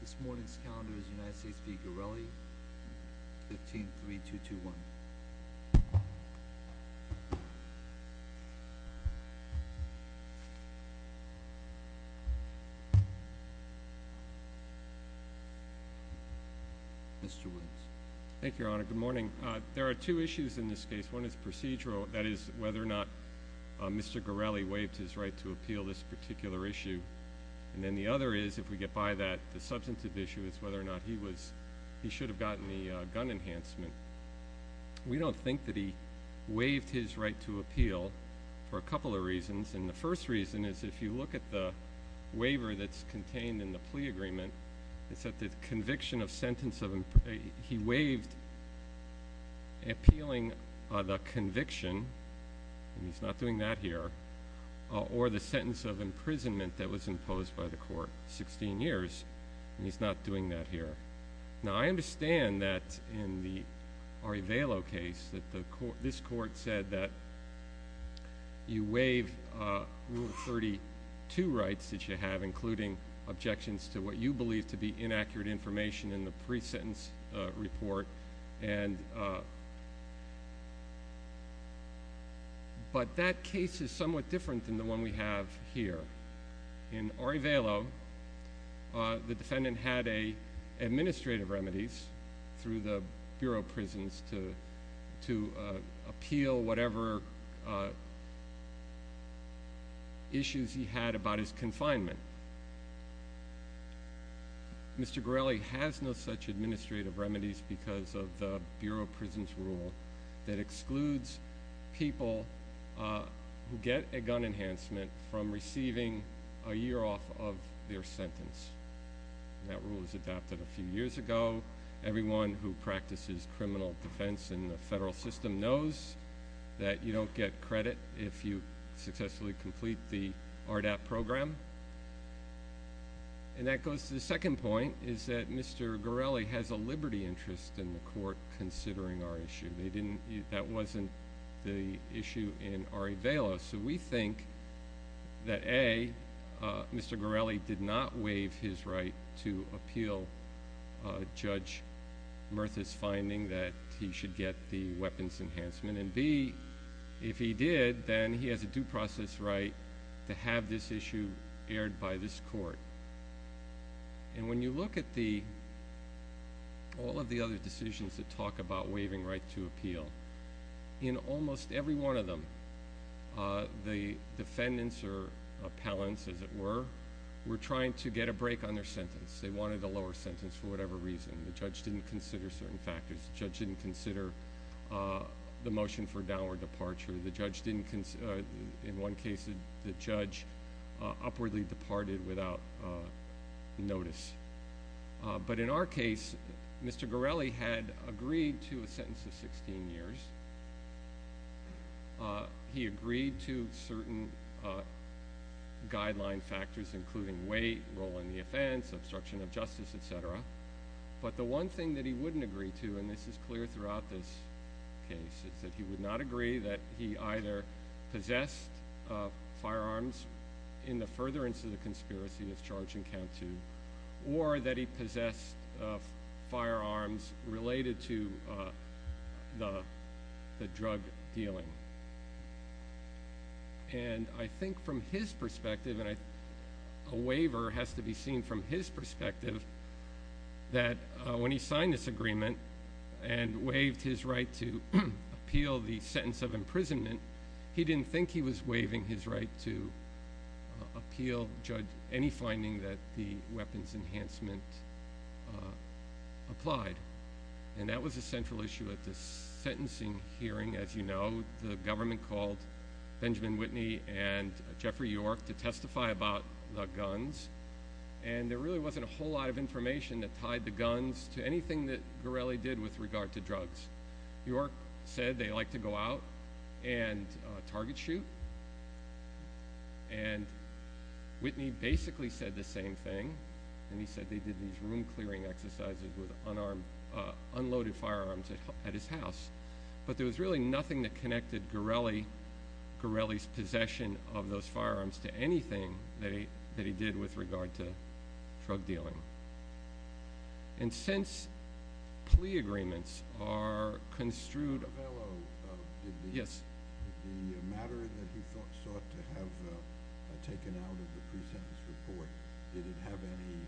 This morning's calendar is United States v. Gorelli, 15-3-2-2-1. Mr. Williams. Thank you, Your Honor. Good morning. There are two issues in this case. One is procedural, that is, whether or not Mr. Gorelli waived his right to appeal this particular issue. And then the other is, if we get by that, the substantive issue is whether or not he should have gotten the gun enhancement. We don't think that he waived his right to appeal for a couple of reasons, and the first reason is if you look at the waiver that's contained in the plea agreement, it's that the conviction of sentence of—he waived appealing the conviction, and he's not doing that here, or the sentence of imprisonment that was imposed by the court, 16 years, and he's not doing that here. Now, I understand that in the Ari Vailo case that this court said that you waive Rule 32 rights that you have, including objections to what you believe to be inaccurate information in the pre-sentence report, but that case is somewhat different than the one we have here. In Ari Vailo, the defendant had administrative remedies through the Bureau of Prisons to appeal whatever issues he had about his confinement. Mr. Gorelli has no such administrative remedies because of the Bureau of Prisons rule that excludes people who get a gun enhancement from receiving a year off of their sentence. That rule was adopted a few years ago. Everyone who practices criminal defense in the federal system knows that you don't get credit if you successfully complete the ARDAP program. And that goes to the second point, is that Mr. Gorelli has a liberty interest in the court considering our issue. That wasn't the issue in Ari Vailo. So we think that, A, Mr. Gorelli did not waive his right to appeal Judge Murtha's finding that he should get the weapons enhancement, and, B, if he did, then he has a due process right to have this issue aired by this court. And when you look at all of the other decisions that talk about waiving right to appeal, in almost every one of them the defendants or appellants, as it were, were trying to get a break on their sentence. They wanted a lower sentence for whatever reason. The judge didn't consider certain factors. The judge didn't consider the motion for downward departure. In one case, the judge upwardly departed without notice. But in our case, Mr. Gorelli had agreed to a sentence of 16 years. He agreed to certain guideline factors, including weight, role in the offense, obstruction of justice, et cetera. But the one thing that he wouldn't agree to, and this is clear throughout this case, is that he would not agree that he either possessed firearms in the furtherance of the conspiracy that's charged in count two, or that he possessed firearms related to the drug dealing. And I think from his perspective, and a waiver has to be seen from his perspective, that when he signed this agreement and waived his right to appeal the sentence of imprisonment, he didn't think he was waiving his right to appeal, judge any finding that the weapons enhancement applied. And that was a central issue at the sentencing hearing, as you know. The government called Benjamin Whitney and Jeffrey York to testify about the guns. And there really wasn't a whole lot of information that tied the guns to anything that Gorelli did with regard to drugs. York said they like to go out and target shoot. And Whitney basically said the same thing. And he said they did these room clearing exercises with unloaded firearms at his house. But there was really nothing that connected Gorelli's possession of those firearms to anything that he did with regard to drug dealing. And since plea agreements are construed- The matter that he sought to have taken out of the pre-sentence report, did it have any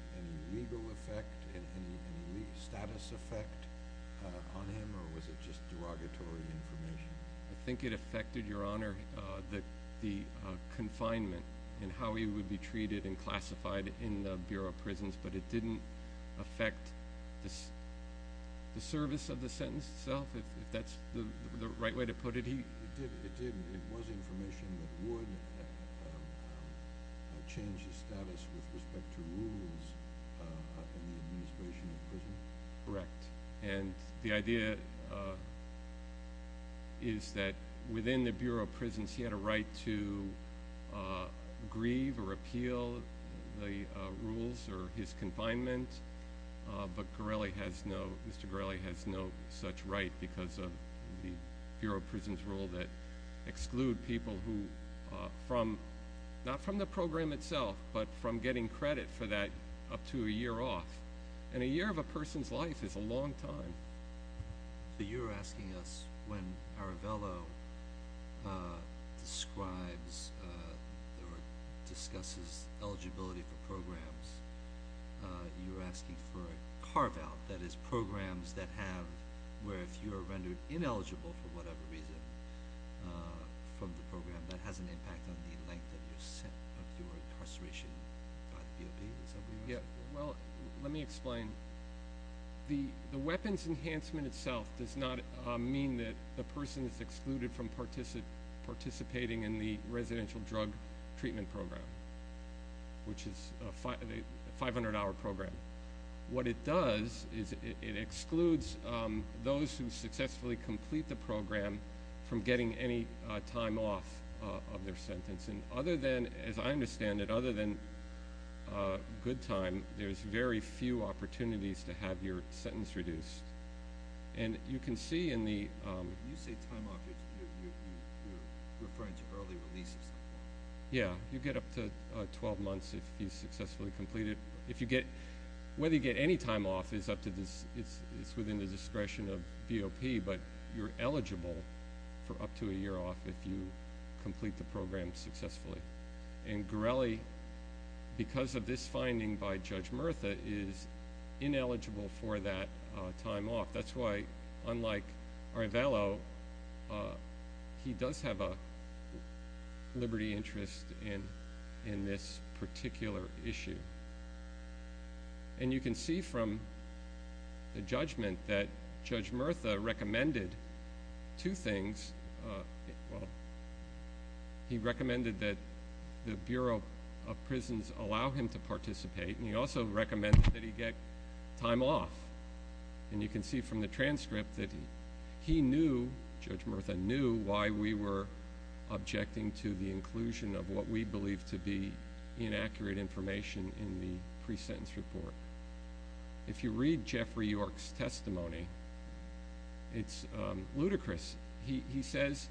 legal effect, any status effect on him, or was it just derogatory information? I think it affected, Your Honor, the confinement and how he would be treated and classified in the Bureau of Prisons. But it didn't affect the service of the sentence itself, if that's the right way to put it. It didn't. It was information that would change his status with respect to rules in the administration of prison. Correct. And the idea is that within the Bureau of Prisons, he had a right to grieve or appeal the rules or his confinement. But Mr. Gorelli has no such right because of the Bureau of Prisons rule that exclude people who, not from the program itself, but from getting credit for that up to a year off. And a year of a person's life is a long time. So you're asking us when Aravello describes or discusses eligibility for programs, you're asking for a carve-out, that is programs that have- where if you are rendered ineligible for whatever reason from the program, that has an impact on the length of your incarceration by the BOP? Well, let me explain. The weapons enhancement itself does not mean that the person is excluded from participating in the residential drug treatment program, which is a 500-hour program. What it does is it excludes those who successfully complete the program from getting any time off of their sentence. And other than, as I understand it, other than good time, there's very few opportunities to have your sentence reduced. And you can see in the- You say time off if you're referring to early releases. Yeah, you get up to 12 months if you successfully complete it. If you get- whether you get any time off is up to- it's within the discretion of BOP, but you're eligible for up to a year off if you complete the program successfully. And Gorelli, because of this finding by Judge Murtha, is ineligible for that time off. That's why, unlike Aravello, he does have a liberty interest in this particular issue. And you can see from the judgment that Judge Murtha recommended two things. Well, he recommended that the Bureau of Prisons allow him to participate, and he also recommended that he get time off. And you can see from the transcript that he knew, Judge Murtha knew, why we were objecting to the inclusion of what we believe to be inaccurate information in the pre-sentence report. If you read Jeffrey York's testimony, it's ludicrous. He says,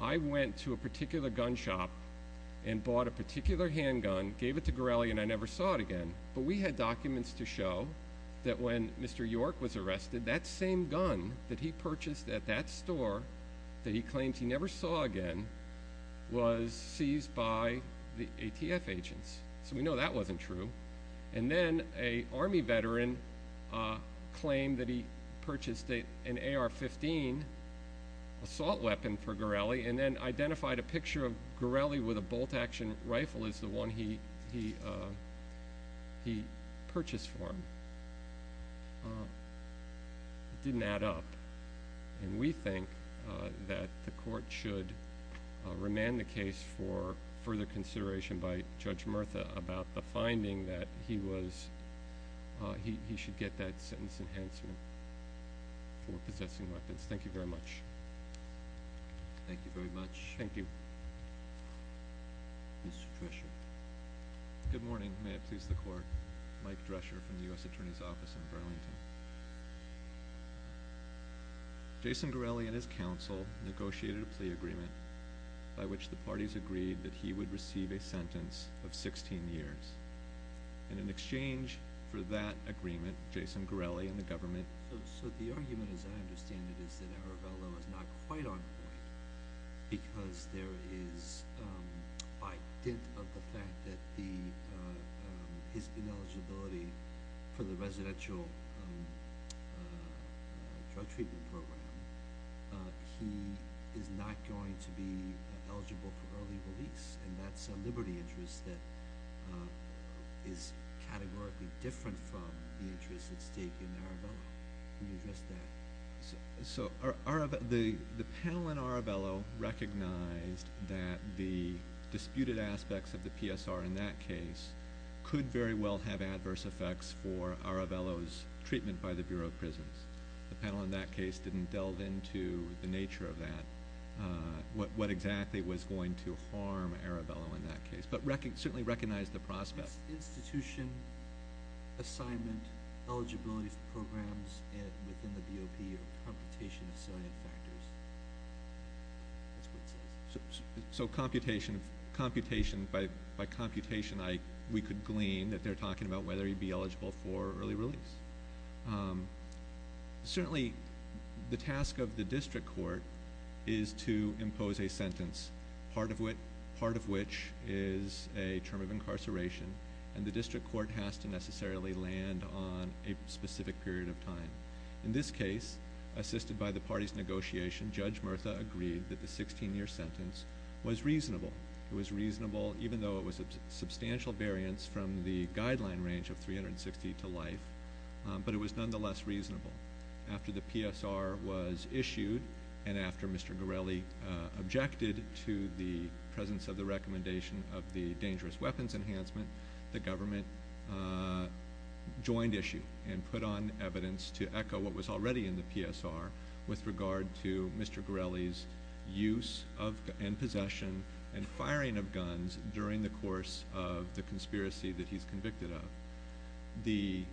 I went to a particular gun shop and bought a particular handgun, gave it to Gorelli, and I never saw it again. But we had documents to show that when Mr. York was arrested, that same gun that he purchased at that store that he claimed he never saw again was seized by the ATF agents. So we know that wasn't true. And then an Army veteran claimed that he purchased an AR-15 assault weapon for Gorelli, and then identified a picture of Gorelli with a bolt-action rifle as the one he purchased for him. It didn't add up. And we think that the Court should remand the case for further consideration by Judge Murtha about the finding that he was, he should get that sentence enhancement for possessing weapons. Thank you very much. Thank you very much. Thank you. Mr. Drescher. Good morning. May it please the Court. Mike Drescher from the U.S. Attorney's Office in Burlington. Jason Gorelli and his counsel negotiated a plea agreement by which the parties agreed that he would receive a sentence of 16 years. And in exchange for that agreement, Jason Gorelli and the government So the argument, as I understand it, is that Arabello is not quite on point because there is, by dint of the fact that his ineligibility for the residential drug treatment program, he is not going to be eligible for early release. And that's a liberty interest that is categorically different from the interest at stake in Arabello. Can you address that? So the panel in Arabello recognized that the disputed aspects of the PSR in that case could very well have adverse effects for Arabello's treatment by the Bureau of Prisons. The panel in that case didn't delve into the nature of that, what exactly was going to harm Arabello in that case, but certainly recognized the prospect. Is institution assignment eligibility for programs within the BOP a computation of salient factors? That's what it says. So computation, by computation we could glean that they're talking about whether he'd be eligible for early release. Certainly the task of the district court is to impose a sentence, part of which is a term of incarceration, and the district court has to necessarily land on a specific period of time. In this case, assisted by the parties' negotiation, Judge Murtha agreed that the 16-year sentence was reasonable. It was reasonable even though it was a substantial variance from the guideline range of 360 to life, but it was nonetheless reasonable. After the PSR was issued and after Mr. Gorelli objected to the presence of the recommendation of the dangerous weapons enhancement, the government joined issue and put on evidence to echo what was already in the PSR with regard to Mr. Gorelli's use and possession and firing of guns during the course of the conspiracy that he's convicted of.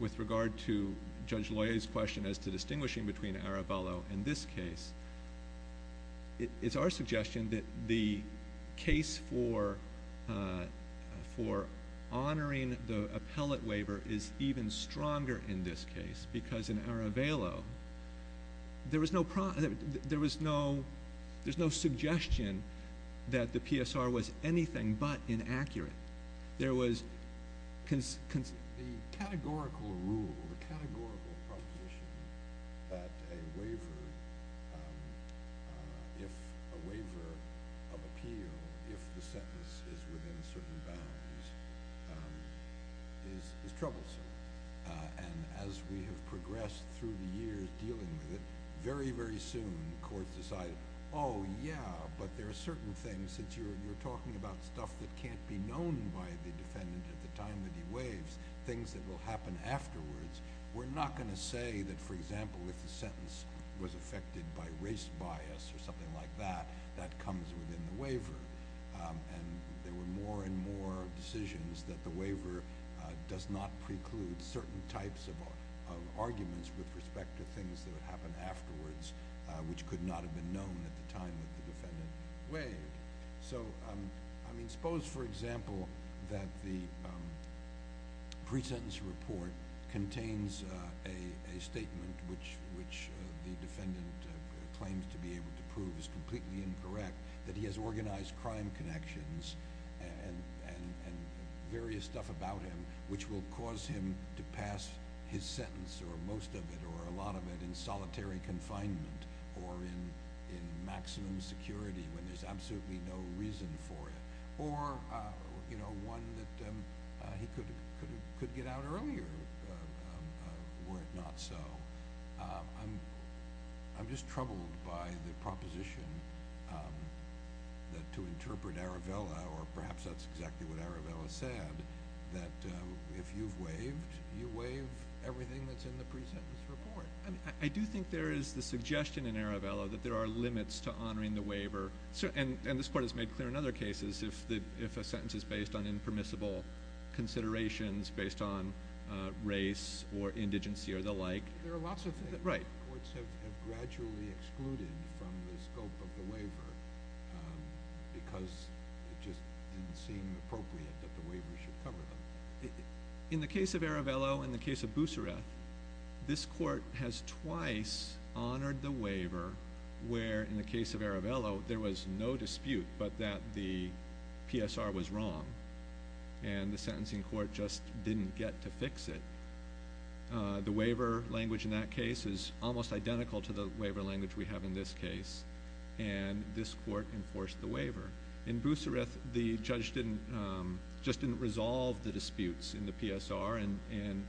With regard to Judge Loyer's question as to distinguishing between Arabello in this case, it's our suggestion that the case for honoring the appellate waiver is even stronger in this case because in Arabello there was no suggestion that the PSR was anything but inaccurate. The categorical rule, the categorical proposition that a waiver of appeal, if the sentence is within certain bounds, is troublesome. As we have progressed through the years dealing with it, very, very soon courts decided, oh, yeah, but there are certain things that you're talking about, stuff that can't be known by the defendant at the time that he waives, things that will happen afterwards. We're not going to say that, for example, if the sentence was affected by race bias or something like that, that comes within the waiver. And there were more and more decisions that the waiver does not preclude certain types of arguments with respect to things that would happen afterwards, which could not have been known at the time that the defendant waived. So, I mean, suppose, for example, that the pre-sentence report contains a statement which the defendant claims to be able to prove is completely incorrect, that he has organized crime connections and various stuff about him, which will cause him to pass his sentence or most of it or a lot of it in solitary confinement or in maximum security when there's absolutely no reason for it, or, you know, one that he could get out earlier were it not so. I'm just troubled by the proposition that to interpret Aravella, or perhaps that's exactly what Aravella said, that if you've waived, you waive everything that's in the pre-sentence report. I do think there is the suggestion in Aravella that there are limits to honoring the waiver. And this Court has made clear in other cases if a sentence is based on impermissible considerations, based on race or indigency or the like. There are lots of things that courts have gradually excluded from the scope of the waiver because it just didn't seem appropriate that the waiver should cover them. In the case of Aravella and the case of Boussareth, this Court has twice honored the waiver where in the case of Aravella there was no dispute but that the PSR was wrong and the sentencing court just didn't get to fix it. The waiver language in that case is almost identical to the waiver language we have in this case, and this Court enforced the waiver. In Boussareth, the judge just didn't resolve the disputes in the PSR, and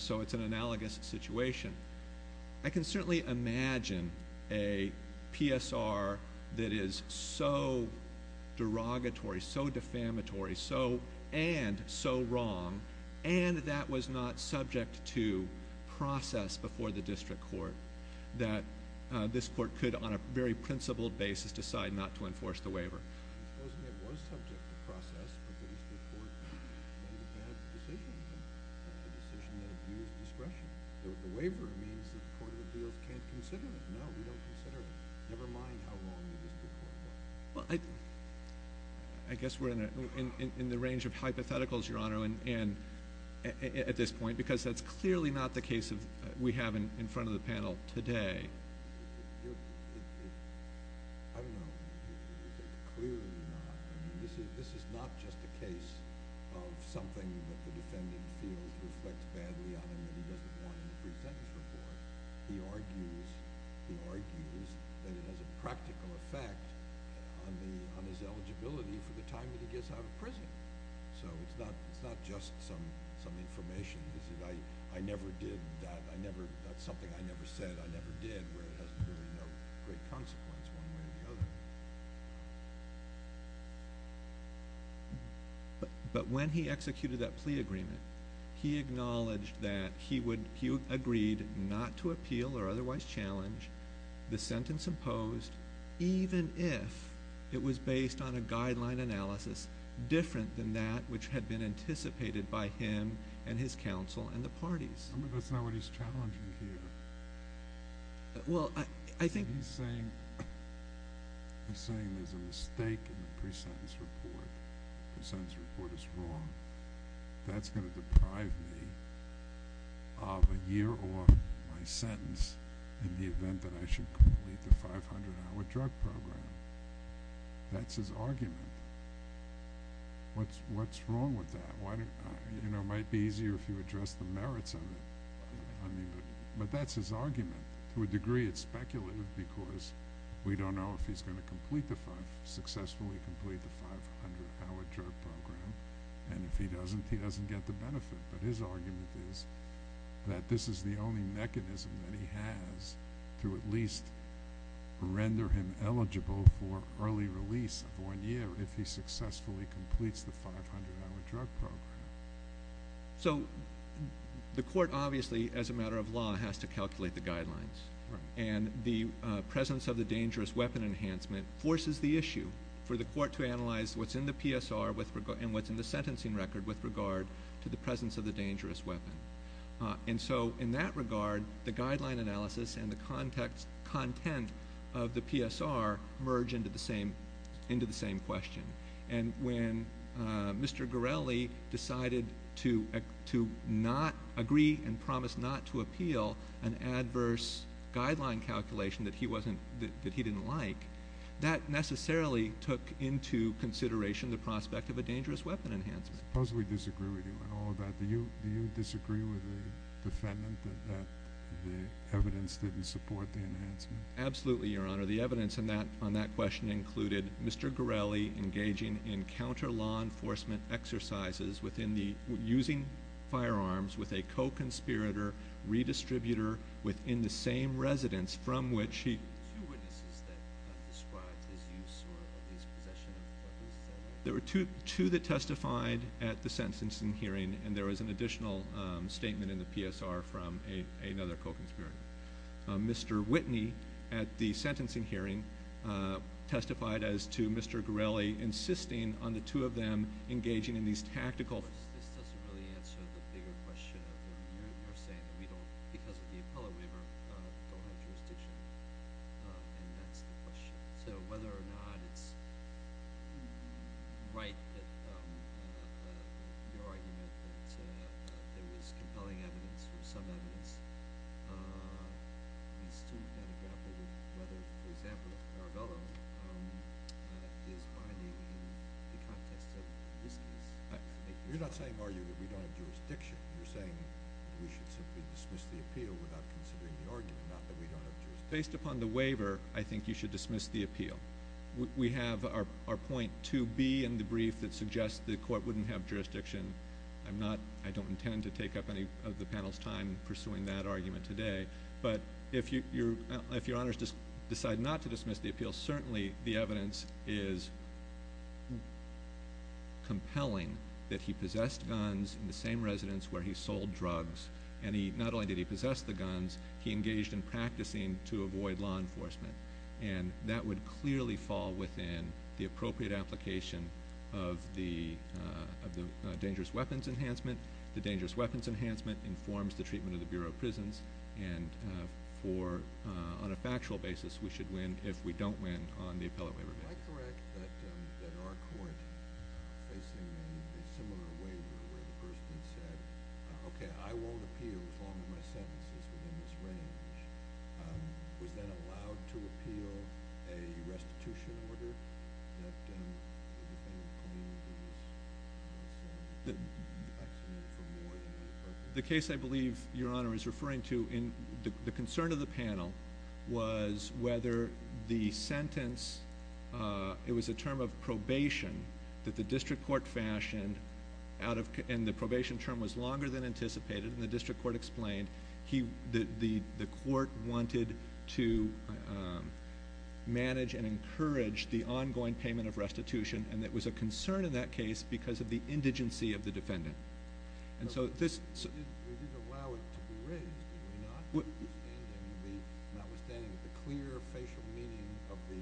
so it's an analogous situation. I can certainly imagine a PSR that is so derogatory, so defamatory, and so wrong, and that was not subject to process before the district court that this court could, on a very principled basis, decide not to enforce the waiver. I suppose it was subject to process before the district court made a bad decision, a decision that abused discretion. The waiver means that the Court of Appeals can't consider it. No, we don't consider it, never mind how wrong the district court was. I guess we're in the range of hypotheticals, Your Honor, at this point because that's clearly not the case we have in front of the panel today. I don't know if it is. It's clearly not. This is not just a case of something that the defendant feels reflects badly on him and he doesn't want to present his report. He argues that it has a practical effect on his eligibility for the time that he gets out of prison. So it's not just some information. He said, I never did that. That's something I never said I never did, where it has really no great consequence one way or the other. But when he executed that plea agreement, he acknowledged that he agreed not to appeal or otherwise challenge the sentence imposed even if it was based on a guideline analysis different than that which had been anticipated by him and his counsel and the parties. But that's not what he's challenging here. He's saying there's a mistake in the pre-sentence report. The pre-sentence report is wrong. That's going to deprive me of a year off my sentence in the event that I should complete the 500-hour drug program. That's his argument. What's wrong with that? It might be easier if you address the merits of it. But that's his argument. To a degree, it's speculative because we don't know if he's going to successfully complete the 500-hour drug program, and if he doesn't, he doesn't get the benefit. But his argument is that this is the only mechanism that he has to at least render him eligible for early release of one year if he successfully completes the 500-hour drug program. So the court obviously, as a matter of law, has to calculate the guidelines. And the presence of the dangerous weapon enhancement forces the issue for the court to analyze what's in the PSR and what's in the sentencing record with regard to the presence of the dangerous weapon. And so in that regard, the guideline analysis and the content of the PSR merge into the same question. And when Mr. Gorelli decided to agree and promise not to appeal an adverse guideline calculation that he didn't like, that necessarily took into consideration the prospect of a dangerous weapon enhancement. Suppose we disagree with you on all of that. Do you disagree with the defendant that the evidence didn't support the enhancement? Absolutely, Your Honor. The evidence on that question included Mr. Gorelli engaging in counter-law enforcement exercises using firearms with a co-conspirator redistributor within the same residence from which he- There were two witnesses that described his use or his possession of what was said. There were two that testified at the sentencing hearing, and there was an additional statement in the PSR from another co-conspirator. Mr. Whitney, at the sentencing hearing, testified as to Mr. Gorelli insisting on the two of them engaging in these tactical- Of course, this doesn't really answer the bigger question of what you're saying. We don't, because of the appellate waiver, don't have jurisdiction. And that's the question. So whether or not it's right that your argument that there was compelling evidence or some evidence, we've still got to grapple with whether, for example, Caravello is binding in the context of this case. You're not saying, are you, that we don't have jurisdiction. You're saying we should simply dismiss the appeal without considering the argument, not that we don't have jurisdiction. Based upon the waiver, I think you should dismiss the appeal. We have our point 2B in the brief that suggests the court wouldn't have jurisdiction. I'm not- I don't intend to take up any of the panel's time pursuing that argument today. But if your honors decide not to dismiss the appeal, certainly the evidence is compelling that he possessed guns in the same residence where he sold drugs. And not only did he possess the guns, he engaged in practicing to avoid law enforcement. And that would clearly fall within the appropriate application of the dangerous weapons enhancement. The dangerous weapons enhancement informs the treatment of the Bureau of Prisons. And for- on a factual basis, we should win if we don't win on the appellate waiver. Am I correct that our court is facing a similar waiver where the person said, okay, I won't appeal as long as my sentence is within this range. Was that allowed to appeal a restitution order? That if anything, the community was- The case I believe your honor is referring to, the concern of the panel was whether the sentence- it was a term of probation that the district court fashioned out of- and the probation term was longer than anticipated. And the district court explained the court wanted to manage and encourage the ongoing payment of restitution. And there was a concern in that case because of the indigency of the defendant. And so this- They didn't allow it to be raised, did they not? Notwithstanding the clear facial meaning of the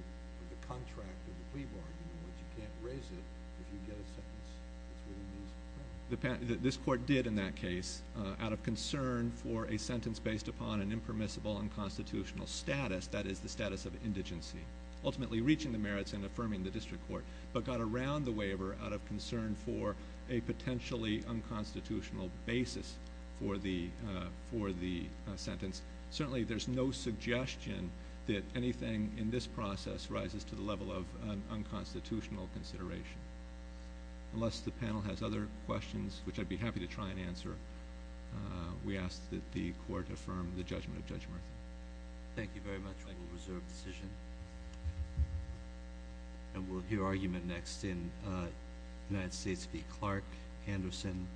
contract of the plea bargain, which you can't raise it if you get a sentence that's within these- This court did in that case, out of concern for a sentence based upon an impermissible unconstitutional status, that is the status of indigency. Ultimately reaching the merits and affirming the district court. But got around the waiver out of concern for a potentially unconstitutional basis for the sentence. Certainly there's no suggestion that anything in this process rises to the level of unconstitutional consideration. Unless the panel has other questions, which I'd be happy to try and answer, we ask that the court affirm the judgment of Judge Murtha. Thank you very much. I will reserve the decision. And we'll hear argument next in United States v. Clark, Anderson.